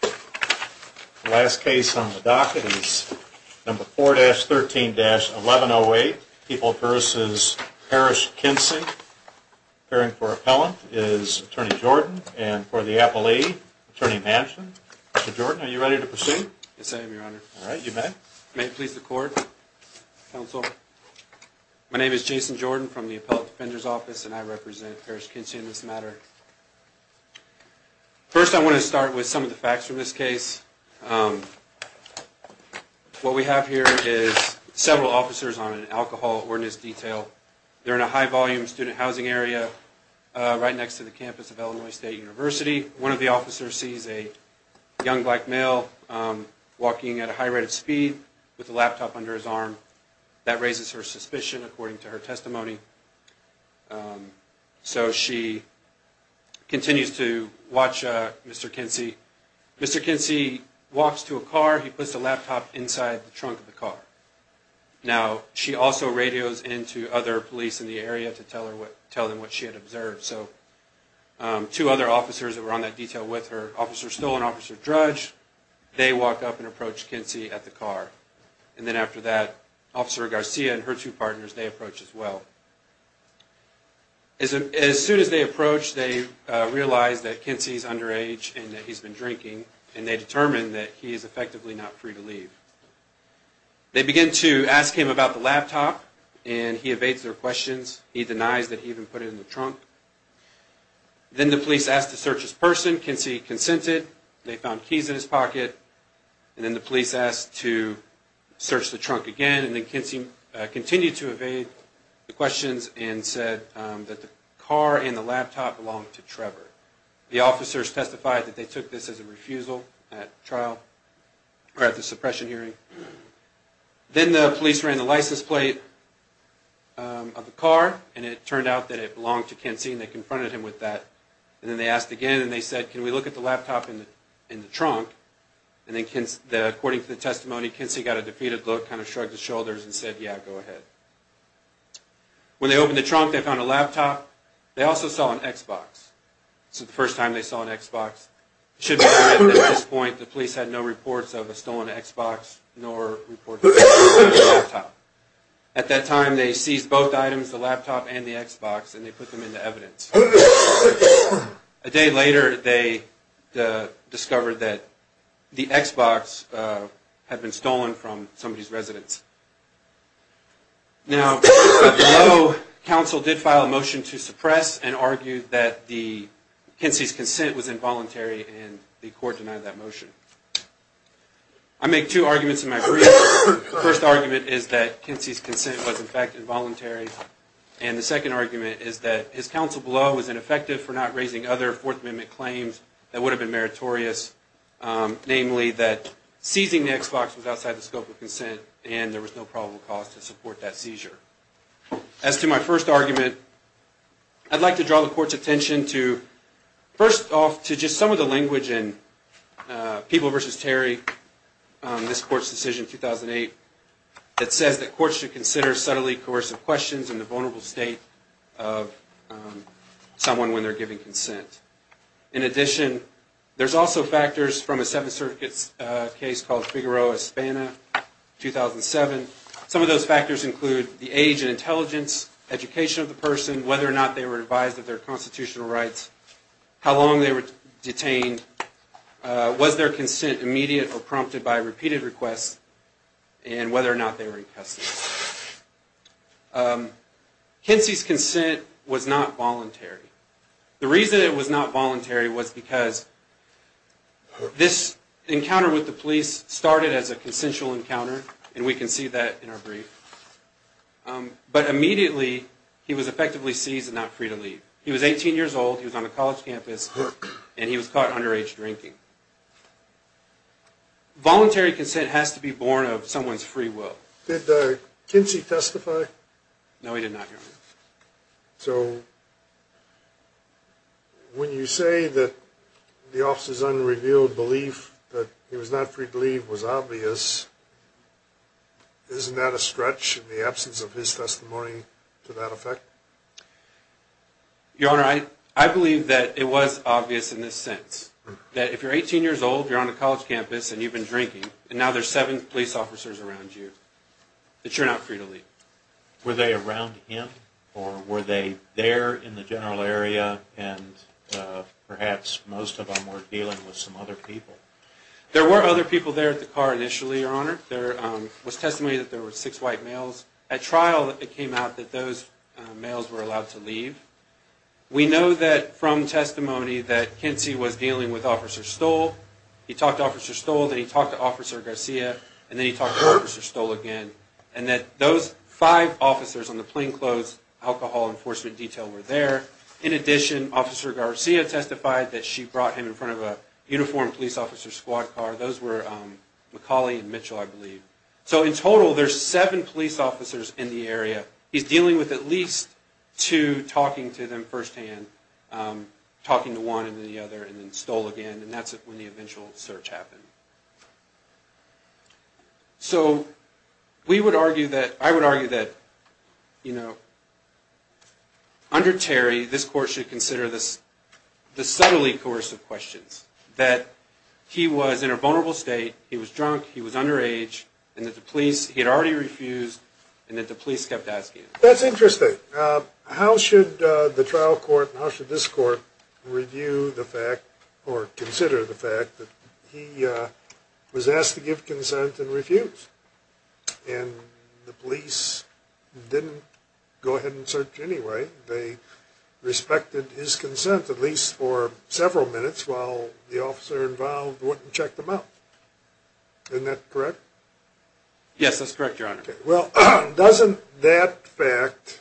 The last case on the docket is number 4-13-1108, People v. Parrish Kinsey. Appearing for appellant is Attorney Jordan, and for the appellee, Attorney Hanson. Mr. Jordan, are you ready to proceed? Yes, I am, Your Honor. All right, you may. May it please the Court, Counsel. My name is Jason Jordan from the Appellate Defender's Office, and I represent Parrish Kinsey in this matter. First, I want to start with some of the facts from this case. What we have here is several officers on an alcohol ordinance detail. They're in a high-volume student housing area right next to the campus of Illinois State University. One of the officers sees a young black male walking at a high rate of speed with a laptop under his arm. So she continues to watch Mr. Kinsey. Mr. Kinsey walks to a car. He puts the laptop inside the trunk of the car. Now, she also radios in to other police in the area to tell them what she had observed. So two other officers that were on that detail with her, Officer Stoll and Officer Drudge, they walk up and approach Kinsey at the car. And then after that, Officer Garcia and her two partners, they approach as well. As soon as they approach, they realize that Kinsey is underage and that he's been drinking, and they determine that he is effectively not free to leave. They begin to ask him about the laptop, and he evades their questions. He denies that he even put it in the trunk. Then the police ask to search his person. Kinsey consented. They found keys in his pocket. And then the police asked to search the trunk again. And then Kinsey continued to evade the questions and said that the car and the laptop belonged to Trevor. The officers testified that they took this as a refusal at trial, or at the suppression hearing. Then the police ran the license plate of the car, and it turned out that it belonged to Kinsey, and they confronted him with that. And then they asked again, and they said, can we look at the laptop in the trunk? And then, according to the testimony, Kinsey got a defeated look, kind of shrugged his shoulders, and said, yeah, go ahead. When they opened the trunk, they found a laptop. They also saw an Xbox. This is the first time they saw an Xbox. It should be noted that at this point, the police had no reports of a stolen Xbox, nor reports of a stolen laptop. At that time, they seized both items, the laptop and the Xbox, and they put them into evidence. A day later, they discovered that the Xbox had been stolen from somebody's residence. Now, the Yellow Council did file a motion to suppress and argue that Kinsey's consent was involuntary, and the court denied that motion. I make two arguments in my brief. The first argument is that Kinsey's consent was, in fact, involuntary. And the second argument is that his counsel below was ineffective for not raising other Fourth Amendment claims that would have been meritorious. Namely, that seizing the Xbox was outside the scope of consent, and there was no probable cause to support that seizure. As to my first argument, I'd like to draw the court's attention to, first off, to just some of the language in People v. Terry, this court's decision in 2008, that says that courts should consider subtly coercive questions in the vulnerable state of someone when they're giving consent. In addition, there's also factors from a Seventh Circuit case called Figueroa, Hispana, 2007. Some of those factors include the age and intelligence, education of the person, whether or not they were advised of their constitutional rights, how long they were detained, was their consent immediate or prompted by repeated requests, and whether or not they were in custody. Kinsey's consent was not voluntary. The reason it was not voluntary was because this encounter with the police started as a consensual encounter, and we can see that in our brief. But immediately, he was effectively seized and not free to leave. He was 18 years old, he was on a college campus, and he was caught underage drinking. Voluntary consent has to be born of someone's free will. Did Kinsey testify? No, he did not, Your Honor. So, when you say that the officer's unrevealed belief that he was not free to leave was obvious, isn't that a stretch in the absence of his testimony to that effect? Your Honor, I believe that it was obvious in this sense, that if you're 18 years old, you're on a college campus, and you've been drinking, and now there's seven police officers around you, that you're not free to leave. Were they around him, or were they there in the general area, and perhaps most of them were dealing with some other people? There were other people there at the car initially, Your Honor. There was testimony that there were six white males. At trial, it came out that those males were allowed to leave. We know that from testimony that Kinsey was dealing with Officer Stoll. He talked to Officer Stoll, then he talked to Officer Garcia, and then he talked to Officer Stoll again. And that those five officers on the plainclothes alcohol enforcement detail were there. In addition, Officer Garcia testified that she brought him in front of a uniformed police officer's squad car. Those were McCauley and Mitchell, I believe. So, in total, there's seven police officers in the area. He's dealing with at least two, talking to them firsthand, talking to one and then the other, and then Stoll again. And that's when the eventual search happened. So, we would argue that, I would argue that, you know, under Terry, this Court should consider the subtly coercive questions. That he was in a vulnerable state, he was drunk, he was underage, and that the police, he had already refused, and that the police kept asking him. That's interesting. How should the trial court, how should this court, review the fact, or consider the fact, that he was asked to give consent and refused? And the police didn't go ahead and search anyway. They respected his consent, at least for several minutes, while the officer involved wouldn't check them out. Isn't that correct? Yes, that's correct, Your Honor. Well, doesn't that fact,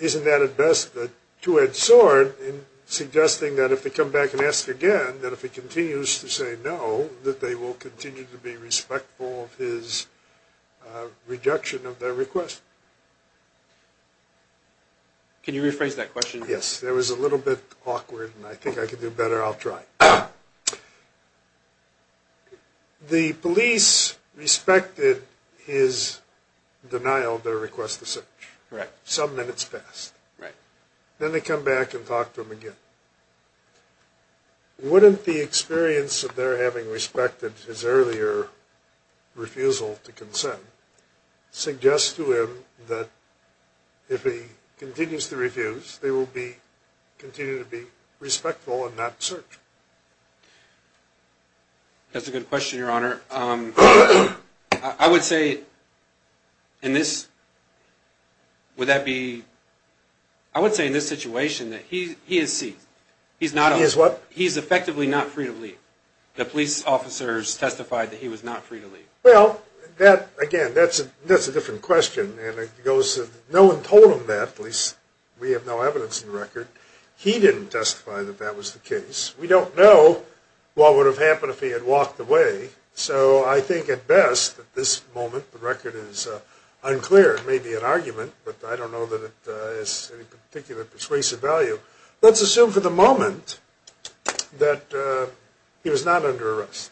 isn't that at best a two-edged sword in suggesting that if they come back and ask again, that if he continues to say no, that they will continue to be respectful of his reduction of their request? Can you rephrase that question? Yes, that was a little bit awkward, and I think I can do better, I'll try. The police respected his denial of their request to search. Correct. Some minutes passed. Right. Then they come back and talk to him again. Wouldn't the experience of their having respected his earlier refusal to consent, suggest to him that if he continues to refuse, they will continue to be respectful and not search? That's a good question, Your Honor. I would say in this situation that he is seized. He is what? He is effectively not free to leave. Well, again, that's a different question. No one told him that, at least we have no evidence in the record. He didn't testify that that was the case. We don't know what would have happened if he had walked away. So I think at best, at this moment, the record is unclear. It may be an argument, but I don't know that it has any particular persuasive value. Let's assume for the moment that he was not under arrest.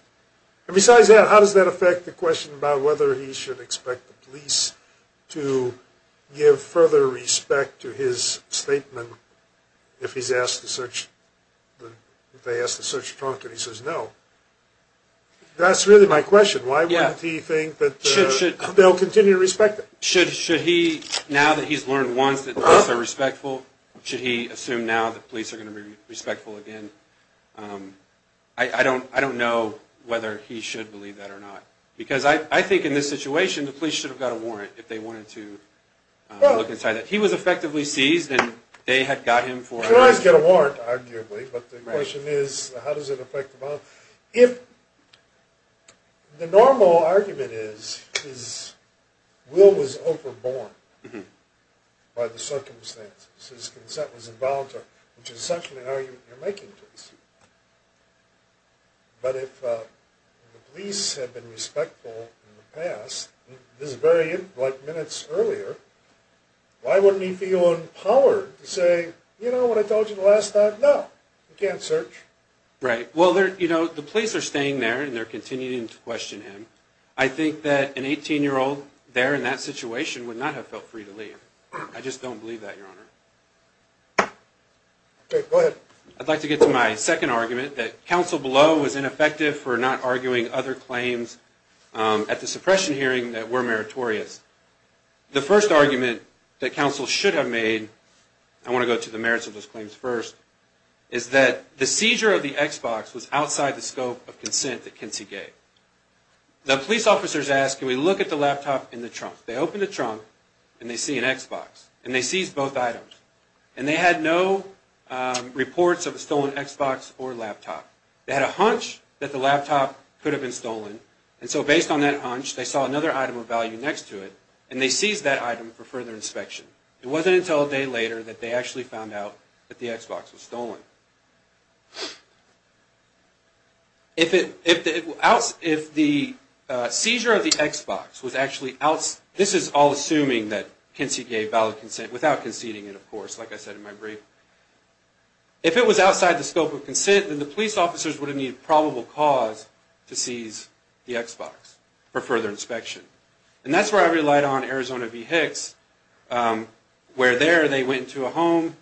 And besides that, how does that affect the question about whether he should expect the police to give further respect to his statement if they ask to search the trunk and he says no? That's really my question. Why wouldn't he think that they'll continue to respect him? Should he, now that he's learned once that police are respectful, should he assume now that police are going to be respectful again? I don't know whether he should believe that or not. Because I think in this situation, the police should have got a warrant if they wanted to look inside that. He was effectively seized, and they had got him for... Could always get a warrant, arguably, but the question is how does it affect the bond? If the normal argument is Will was overborne by the circumstances, his consent was involuntary, which is essentially how you're making things. But if the police have been respectful in the past, this is very like minutes earlier, why wouldn't he feel empowered to say, you know what I told you the last time? No, you can't search. Right. Well, you know, the police are staying there, and they're continuing to question him. I think that an 18-year-old there in that situation would not have felt free to leave. I just don't believe that, Your Honor. Okay, go ahead. I'd like to get to my second argument, that counsel below was ineffective for not arguing other claims at the suppression hearing that were meritorious. The first argument that counsel should have made, I want to go to the merits of those claims first, is that the seizure of the Xbox was outside the scope of consent that Kinsey gave. The police officers asked, can we look at the laptop in the trunk? They opened the trunk, and they see an Xbox, and they seized both items. And they had no reports of a stolen Xbox or laptop. They had a hunch that the laptop could have been stolen, and so based on that hunch, they saw another item of value next to it, and they seized that item for further inspection. It wasn't until a day later that they actually found out that the Xbox was stolen. If the seizure of the Xbox was actually outside, this is all assuming that Kinsey gave valid consent, without conceding it, of course, like I said in my brief. If it was outside the scope of consent, then the police officers would have needed probable cause to seize the Xbox for further inspection. And that's where I relied on Arizona v. Hicks, where there they went into a home,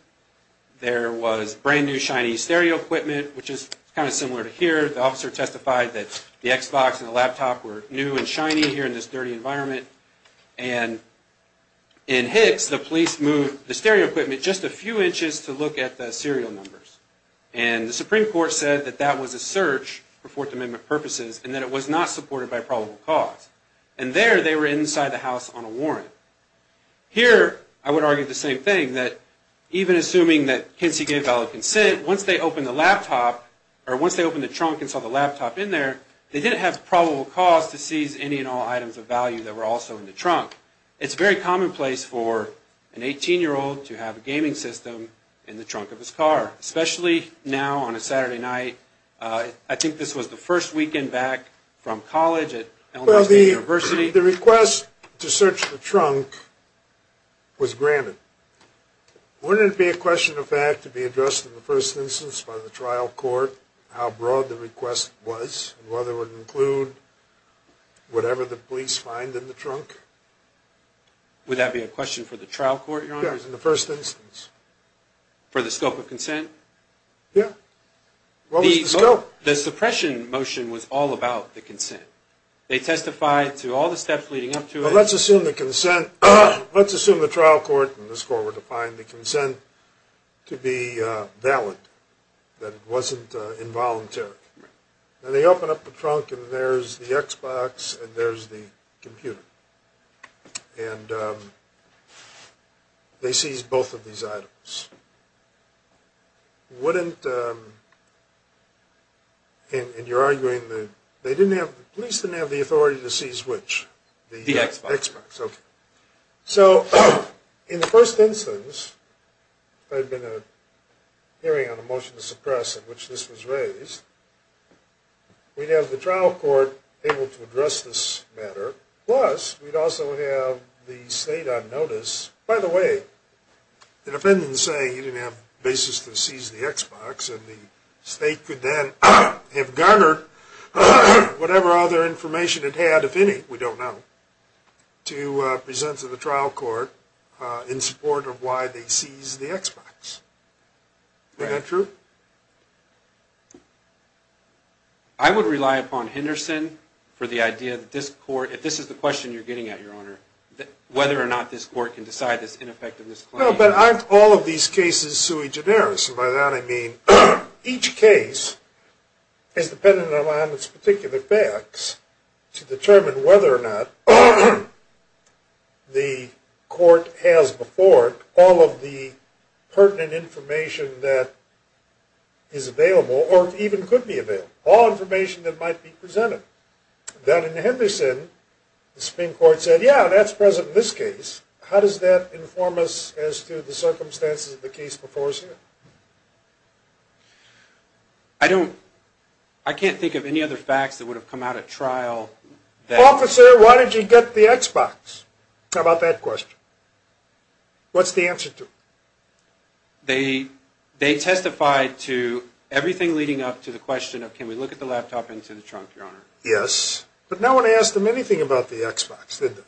there was brand new shiny stereo equipment, which is kind of similar to here. The officer testified that the Xbox and the laptop were new and shiny here in this dirty environment. And in Hicks, the police moved the stereo equipment just a few inches to look at the serial numbers. And the Supreme Court said that that was a search for Fourth Amendment purposes, and that it was not supported by probable cause. Here, I would argue the same thing, that even assuming that Kinsey gave valid consent, once they opened the laptop, or once they opened the trunk and saw the laptop in there, they didn't have probable cause to seize any and all items of value that were also in the trunk. It's very commonplace for an 18-year-old to have a gaming system in the trunk of his car, especially now on a Saturday night. I think this was the first weekend back from college at Elmhurst University. The request to search the trunk was granted. Wouldn't it be a question of fact to be addressed in the first instance by the trial court, how broad the request was, whether it would include whatever the police find in the trunk? Would that be a question for the trial court, Your Honor? Yes, in the first instance. For the scope of consent? Yes. What was the scope? The suppression motion was all about the consent. They testified to all the steps leading up to it. Let's assume the trial court and this court were to find the consent to be valid, that it wasn't involuntary. They open up the trunk and there's the Xbox and there's the computer. And they seized both of these items. And you're arguing the police didn't have the authority to seize which? The Xbox. The Xbox, okay. So in the first instance, there had been a hearing on a motion to suppress in which this was raised. We'd have the trial court able to address this matter. Plus, we'd also have the state on notice. By the way, the defendants say you didn't have basis to seize the Xbox and the state could then have garnered whatever other information it had, if any, we don't know, to present to the trial court in support of why they seized the Xbox. Is that true? I would rely upon Henderson for the idea that this court, whether or not this court can decide this ineffectiveness claim. No, but aren't all of these cases sui generis? And by that I mean each case is dependent upon its particular facts to determine whether or not the court has before it all of the pertinent information that is available or even could be available, all information that might be presented. Down in Henderson, the Supreme Court said, yeah, that's present in this case. How does that inform us as to the circumstances of the case before us here? I don't, I can't think of any other facts that would have come out at trial that... Officer, why did you get the Xbox? How about that question? What's the answer to? They testified to everything leading up to the question of, Yes. But no one asked them anything about the Xbox, did they?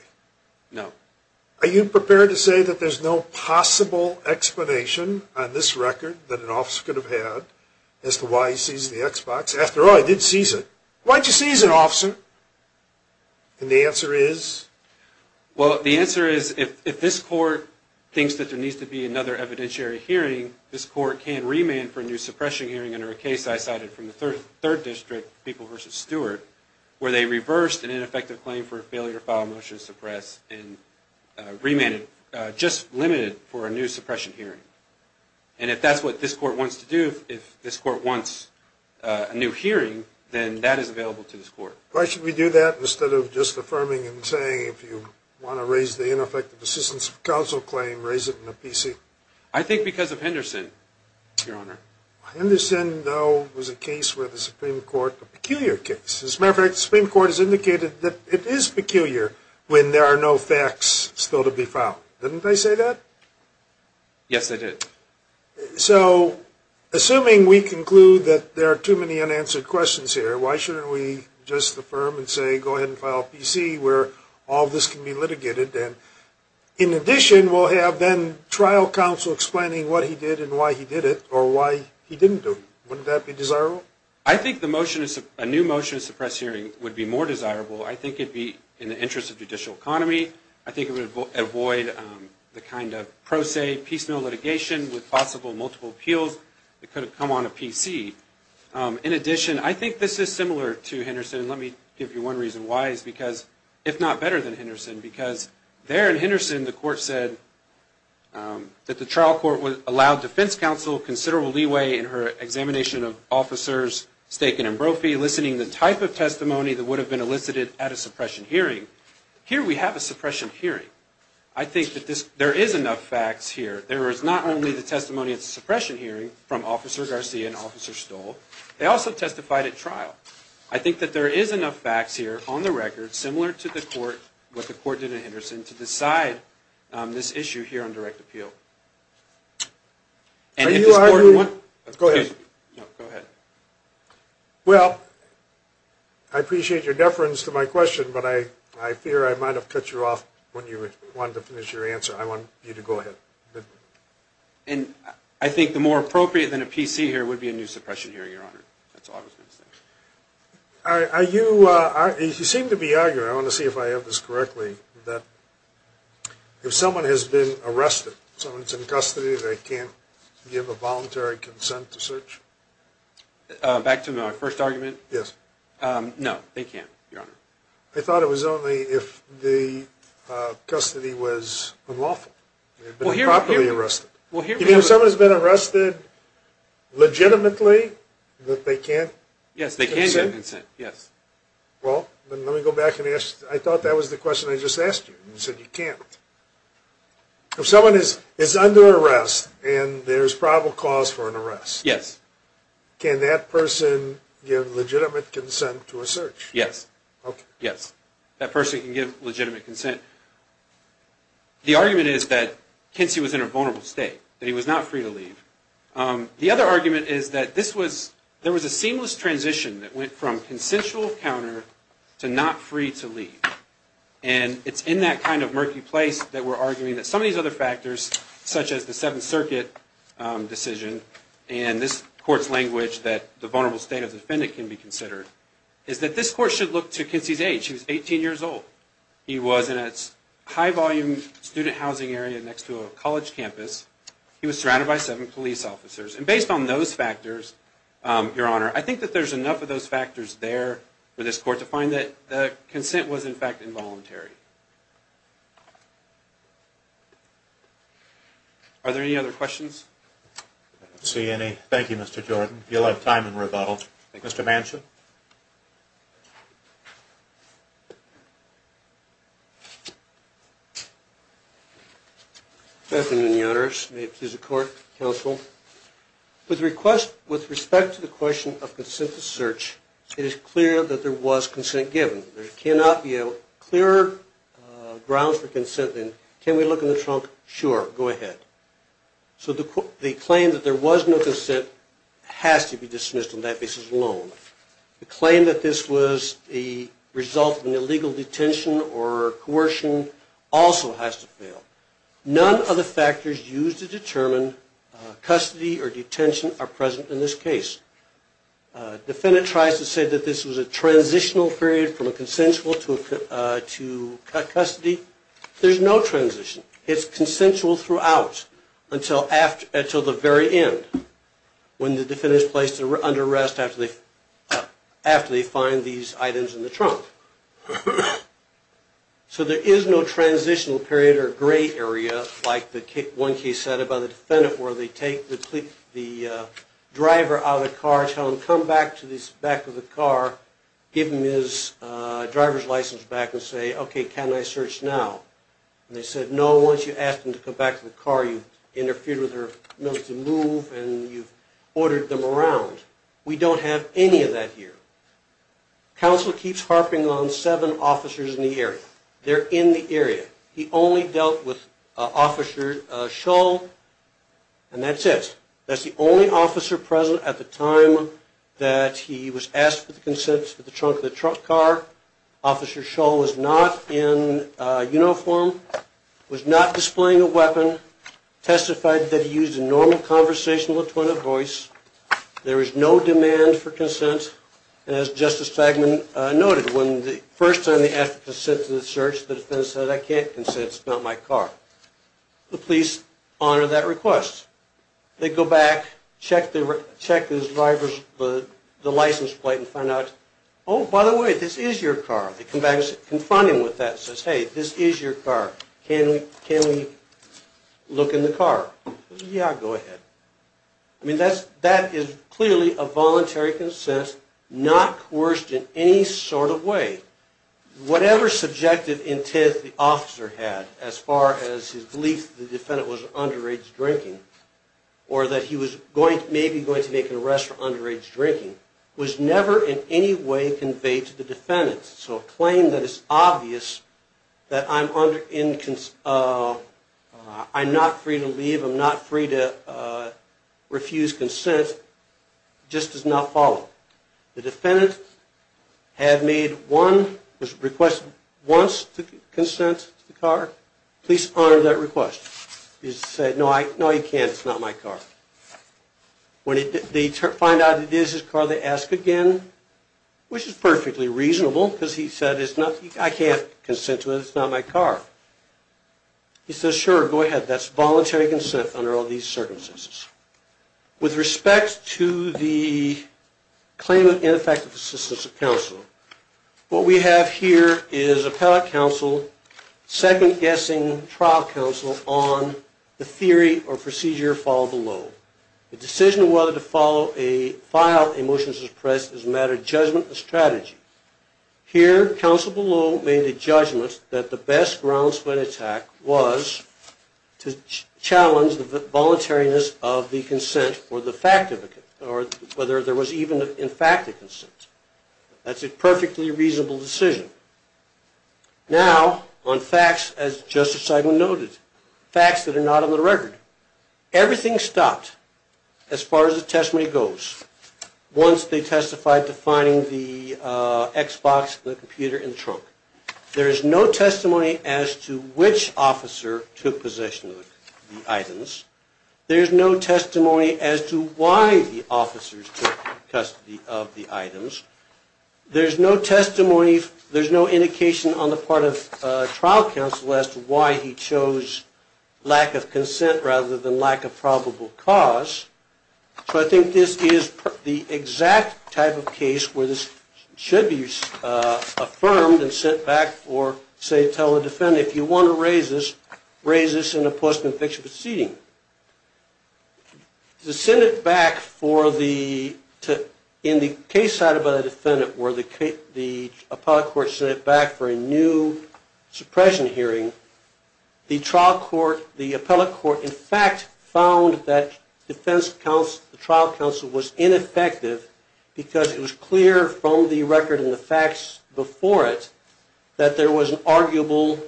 No. Are you prepared to say that there's no possible explanation on this record that an officer could have had as to why he seized the Xbox? After all, he did seize it. Why'd you seize it, officer? And the answer is? Well, the answer is if this court thinks that there needs to be another evidentiary hearing, this court can remand for a new suppression hearing under a case I cited from the 3rd District, People v. Stewart, where they reversed an ineffective claim for a failure to file a motion to suppress and remanded, just limited for a new suppression hearing. And if that's what this court wants to do, if this court wants a new hearing, then that is available to this court. Why should we do that instead of just affirming and saying, if you want to raise the ineffective assistance of counsel claim, raise it in a PC? I think because of Henderson, Your Honor. Henderson, though, was a case where the Supreme Court, a peculiar case. As a matter of fact, the Supreme Court has indicated that it is peculiar when there are no facts still to be filed. Didn't they say that? Yes, they did. So, assuming we conclude that there are too many unanswered questions here, why shouldn't we just affirm and say, go ahead and file a PC where all this can be litigated? In addition, we'll have then trial counsel explaining what he did and why he did it or why he didn't do it. Wouldn't that be desirable? I think a new motion to suppress hearing would be more desirable. I think it would be in the interest of judicial economy. I think it would avoid the kind of pro se piecemeal litigation with possible multiple appeals. It could have come on a PC. In addition, I think this is similar to Henderson. Let me give you one reason why. It's because, if not better than Henderson, because there in Henderson, the court said that the trial court would allow defense counsel considerable leeway in her examination of officers Staken and Brophy, listening to the type of testimony that would have been elicited at a suppression hearing. Here we have a suppression hearing. I think that there is enough facts here. There is not only the testimony at the suppression hearing from Officer Garcia and Officer Stoll. They also testified at trial. I think that there is enough facts here on the record, similar to what the court did in Henderson, to decide this issue here on direct appeal. Are you arguing? Go ahead. Well, I appreciate your deference to my question, but I fear I might have cut you off when you wanted to finish your answer. I want you to go ahead. I think the more appropriate than a PC here would be a new suppression hearing, Your Honor. That's all I was going to say. You seem to be arguing, I want to see if I have this correctly, that if someone has been arrested, someone's in custody, they can't give a voluntary consent to search? Back to my first argument? Yes. No, they can't, Your Honor. I thought it was only if the custody was unlawful. They've been improperly arrested. You mean if someone has been arrested legitimately that they can't consent? Yes, they can give consent, yes. Well, let me go back and ask you. I thought that was the question I just asked you. You said you can't. If someone is under arrest and there's probable cause for an arrest, can that person give legitimate consent to a search? Yes. Okay. Yes, that person can give legitimate consent. The argument is that Kinsey was in a vulnerable state, that he was not free to leave. The other argument is that there was a seamless transition that went from consensual encounter to not free to leave, and it's in that kind of murky place that we're arguing that some of these other factors, such as the Seventh Circuit decision and this Court's language that the vulnerable state of the defendant can be considered, is that this Court should look to Kinsey's age. He was 18 years old. He was in a high-volume student housing area next to a college campus. He was surrounded by seven police officers. And based on those factors, Your Honor, I think that there's enough of those factors there for this Court to find that the consent was, in fact, involuntary. Are there any other questions? I don't see any. Thank you, Mr. Jordan. You'll have time in rebuttal. Thank you. Mr. Manson? Good afternoon, Your Honors. May it please the Court, Counsel. With respect to the question of consent to search, it is clear that there was consent given. There cannot be a clearer ground for consent than, can we look in the trunk, sure, go ahead. So the claim that there was no consent has to be dismissed on that basis alone. The claim that this was the result of an illegal detention or coercion also has to fail. None of the factors used to determine custody or detention are present in this case. The defendant tries to say that this was a transitional period from a consensual to custody. There's no transition. It's consensual throughout until the very end, when the defendant is placed under arrest after they find these items in the trunk. So there is no transitional period or gray area, like one case said about a defendant where they take the driver out of the car, tell him to come back to the back of the car, give him his driver's license back and say, okay, can I search now? And they said, no, once you ask them to come back to the car, you've interfered with their ability to move and you've ordered them around. We don't have any of that here. Counsel keeps harping on seven officers in the area. They're in the area. He only dealt with Officer Shull, and that's it. That's the only officer present at the time that he was asked for the consent of the trunk of the car. Officer Shull was not in uniform, was not displaying a weapon, testified that he used a normal conversational, attorney voice. There was no demand for consent. And as Justice Fagman noted, when the first time they asked for consent to the search, the defendant said, I can't consent, it's not my car. The police honor that request. They go back, check the driver's license plate and find out, oh, by the way, this is your car. They come back and confront him with that, and says, hey, this is your car. Can we look in the car? Yeah, go ahead. I mean, that is clearly a voluntary consent, not coerced in any sort of way. Whatever subjective intent the officer had, as far as his belief that the defendant was underage drinking, or that he was maybe going to make an arrest for underage drinking, was never in any way conveyed to the defendant. So a claim that it's obvious that I'm not free to leave, I'm not free to refuse consent, just does not follow. The defendant had made one request once to consent to the car. Police honor that request. He said, no, you can't, it's not my car. When they find out it is his car, they ask again, which is perfectly reasonable, because he said, I can't consent to it, it's not my car. He says, sure, go ahead. That's voluntary consent under all these circumstances. With respect to the claim of ineffective assistance of counsel, what we have here is appellate counsel second-guessing trial counsel on the theory or procedure followed below. The decision of whether to file a motion to suppress is a matter of judgment and strategy. Here, counsel below made the judgment that the best grounds for an attack was to challenge the voluntariness of the consent, or whether there was even, in fact, a consent. That's a perfectly reasonable decision. Now, on facts, as Justice Seidman noted, facts that are not on the record. Everything stopped as far as the testimony goes once they testified to finding the Xbox, the computer, and the trunk. There is no testimony as to which officer took possession of the items. There's no testimony as to why the officers took custody of the items. There's no testimony, there's no indication on the part of trial counsel as to why he chose lack of consent rather than lack of probable cause. So I think this is the exact type of case where this should be affirmed and sent back for, say, tell the defendant, if you want to raise this, raise this in a post-conviction proceeding. The Senate back for the, in the case cited by the defendant where the appellate court sent it back for a new suppression hearing, the trial court, the appellate court, in fact, found that defense counsel, the trial counsel was ineffective because it was clear from the record and the facts before it that there was an arguable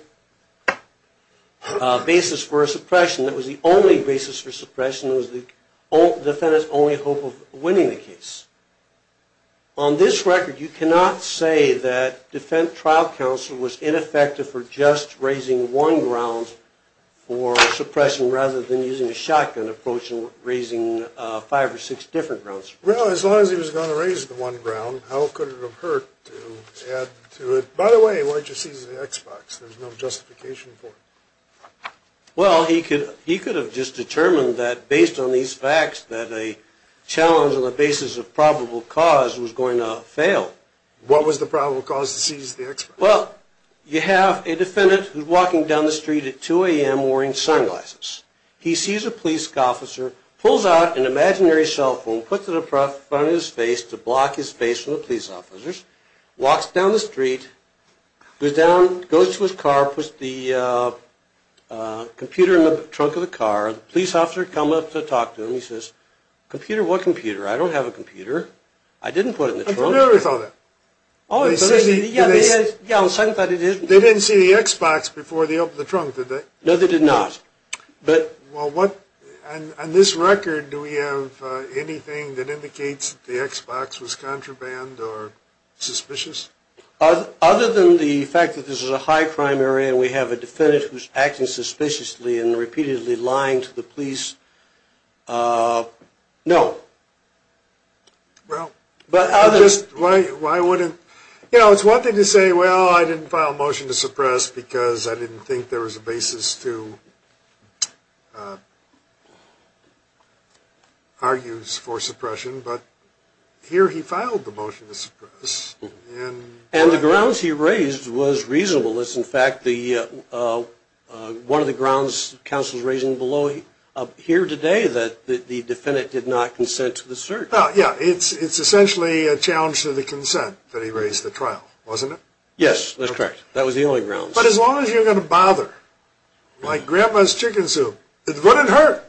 basis for a suppression. It was the only basis for suppression. It was the defendant's only hope of winning the case. On this record, you cannot say that defense trial counsel was ineffective for just raising one ground for suppression rather than using a shotgun approach and raising five or six different grounds. Well, as long as he was going to raise the one ground, how could it have hurt to add to it? By the way, why didn't you seize the X-Box? There's no justification for it. Well, he could have just determined that based on these facts that a challenge on the basis of probable cause was going to fail. What was the probable cause to seize the X-Box? Well, you have a defendant who's walking down the street at 2 a.m. wearing sunglasses. He sees a police officer, pulls out an imaginary cell phone, puts it in front of his face to block his face from the police officers, walks down the street, goes down, goes to his car, puts the computer in the trunk of the car. The police officer comes up to talk to him. He says, computer? What computer? I don't have a computer. I didn't put it in the trunk. I'm familiar with all that. Yeah, on the second thought, it is. They didn't see the X-Box before they opened the trunk, did they? No, they did not. On this record, do we have anything that indicates the X-Box was contraband or suspicious? Other than the fact that this is a high-crime area and we have a defendant who's acting suspiciously and repeatedly lying to the police? No. Well, why wouldn't? You know, it's one thing to say, well, I didn't file a motion to suppress because I didn't think there was a basis to argue for suppression, but here he filed the motion to suppress. And the grounds he raised was reasonable. It's, in fact, one of the grounds counsel is raising here today that the defendant did not consent to the search. Yeah, it's essentially a challenge to the consent that he raised at trial, wasn't it? Yes, that's correct. That was the only grounds. But as long as you're going to bother, like Grandpa's chicken soup, it wouldn't hurt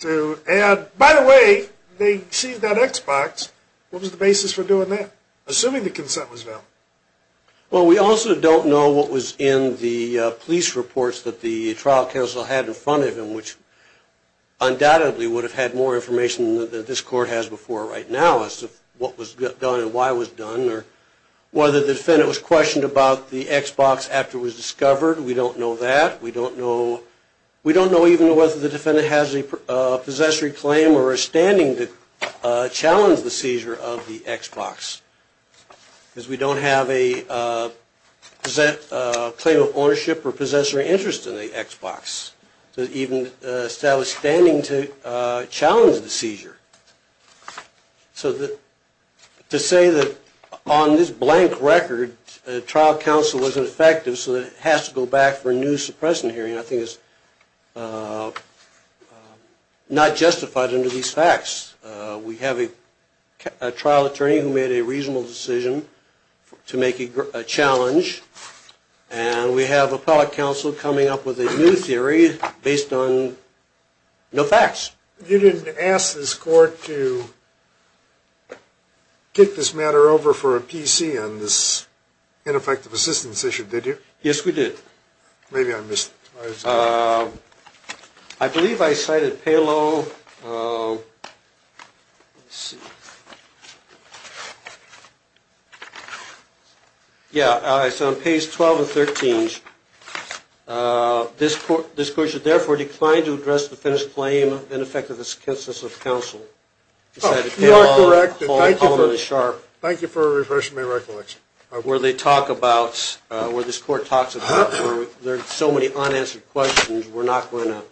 to add, by the way, they seized that X-Box. What was the basis for doing that, assuming the consent was valid? Well, we also don't know what was in the police reports that the trial counsel had in front of him, which undoubtedly would have had more information than this court has before right now as to what was done and why it was done or whether the defendant was questioned about the X-Box after it was discovered. We don't know that. We don't know even whether the defendant has a possessory claim or is standing to challenge the seizure of the X-Box because we don't have a claim of ownership or possessory interest in the X-Box that even establish standing to challenge the seizure. So to say that on this blank record the trial counsel wasn't effective so that it has to go back for a new suppression hearing I think is not justified under these facts. We have a trial attorney who made a reasonable decision to make a challenge and we have appellate counsel coming up with a new theory based on no facts. You didn't ask this court to kick this matter over for a PC on this ineffective assistance issue, did you? Yes, we did. Maybe I missed it. I believe I cited payload. Yeah, it's on page 12 and 13. This court should therefore decline to address the defendant's claim of ineffective assistance of counsel. You are correct. Thank you for refreshing my recollection. Where they talk about, where this court talks about, there are so many unanswered questions we're not going to.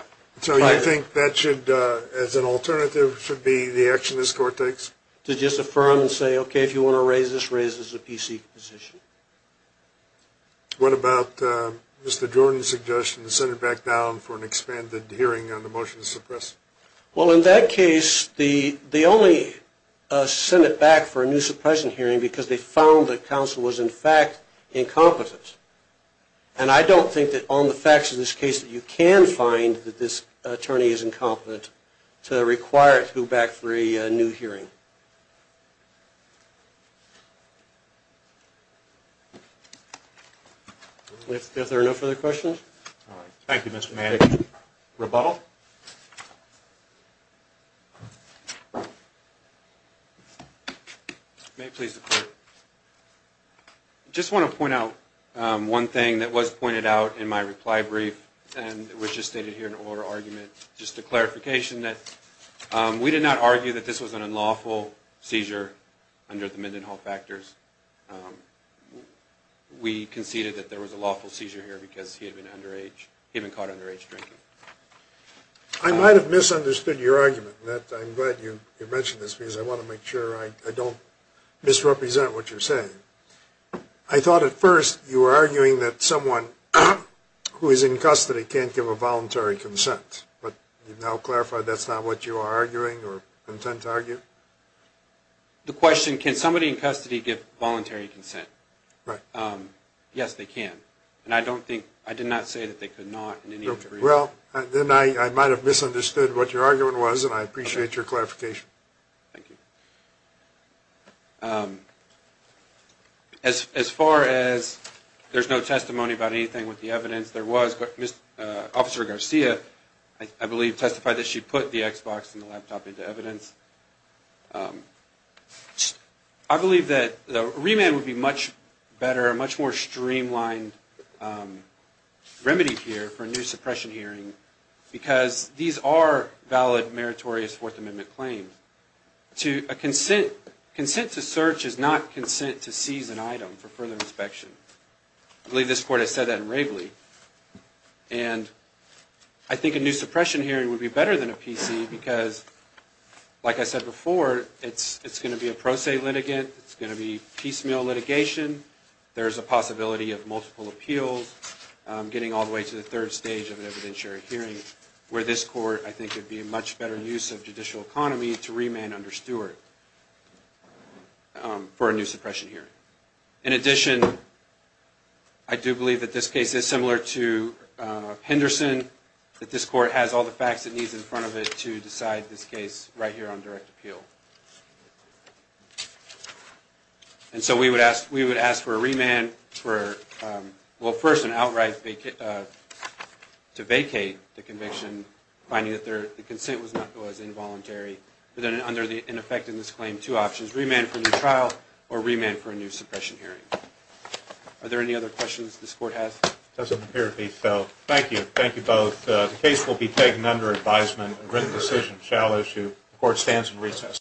So you think that should, as an alternative, should be the action this court takes? To just affirm and say, okay, if you want to raise this, raise this as a PC position. What about Mr. Jordan's suggestion to send it back down for an expanded hearing on the motion to suppress? Well, in that case, they only sent it back for a new suppression hearing because they found that counsel was, in fact, incompetent. And I don't think that on the facts of this case that you can find that this attorney is incompetent to require it to go back for a new hearing. If there are no further questions. Thank you, Mr. Manning. Rebuttal. Rebuttal. May it please the court. I just want to point out one thing that was pointed out in my reply brief and which is stated here in the oral argument. Just a clarification that we did not argue that this was an unlawful seizure under the Mendenhall factors. We conceded that there was a lawful seizure here because he had been caught underage drinking. I might have misunderstood your argument. I'm glad you mentioned this because I want to make sure I don't misrepresent what you're saying. I thought at first you were arguing that someone who is in custody can't give a voluntary consent. But you've now clarified that's not what you are arguing or intend to argue? The question, can somebody in custody give voluntary consent? Yes, they can. I did not say that they could not in any degree. Then I might have misunderstood what your argument was and I appreciate your clarification. Thank you. As far as there's no testimony about anything with the evidence, Officer Garcia, I believe, testified that she put the Xbox and the laptop into evidence. I believe that a remand would be much better, a much more streamlined remedy here for a new suppression hearing because these are valid meritorious Fourth Amendment claims. Consent to search is not consent to seize an item for further inspection. I believe this Court has said that in Wravely. I think a new suppression hearing would be better than a PC because, like I said before, it's going to be a pro se litigant, it's going to be piecemeal litigation, there's a possibility of multiple appeals, getting all the way to the third stage of an evidentiary hearing where this Court, I think, would be a much better use of judicial economy to remand under Stewart for a new suppression hearing. In addition, I do believe that this case is similar to Henderson, that this Court has all the facts it needs in front of it to decide this case right here on direct appeal. And so we would ask for a remand for, well, first and outright to vacate the conviction, finding that the consent was not as involuntary, but then under the ineffectiveness claim, we have two options, remand for a new trial or remand for a new suppression hearing. Are there any other questions this Court has? It doesn't appear to be so. Thank you. Thank you both. The case will be taken under advisement. A written decision shall issue. The Court stands in recess.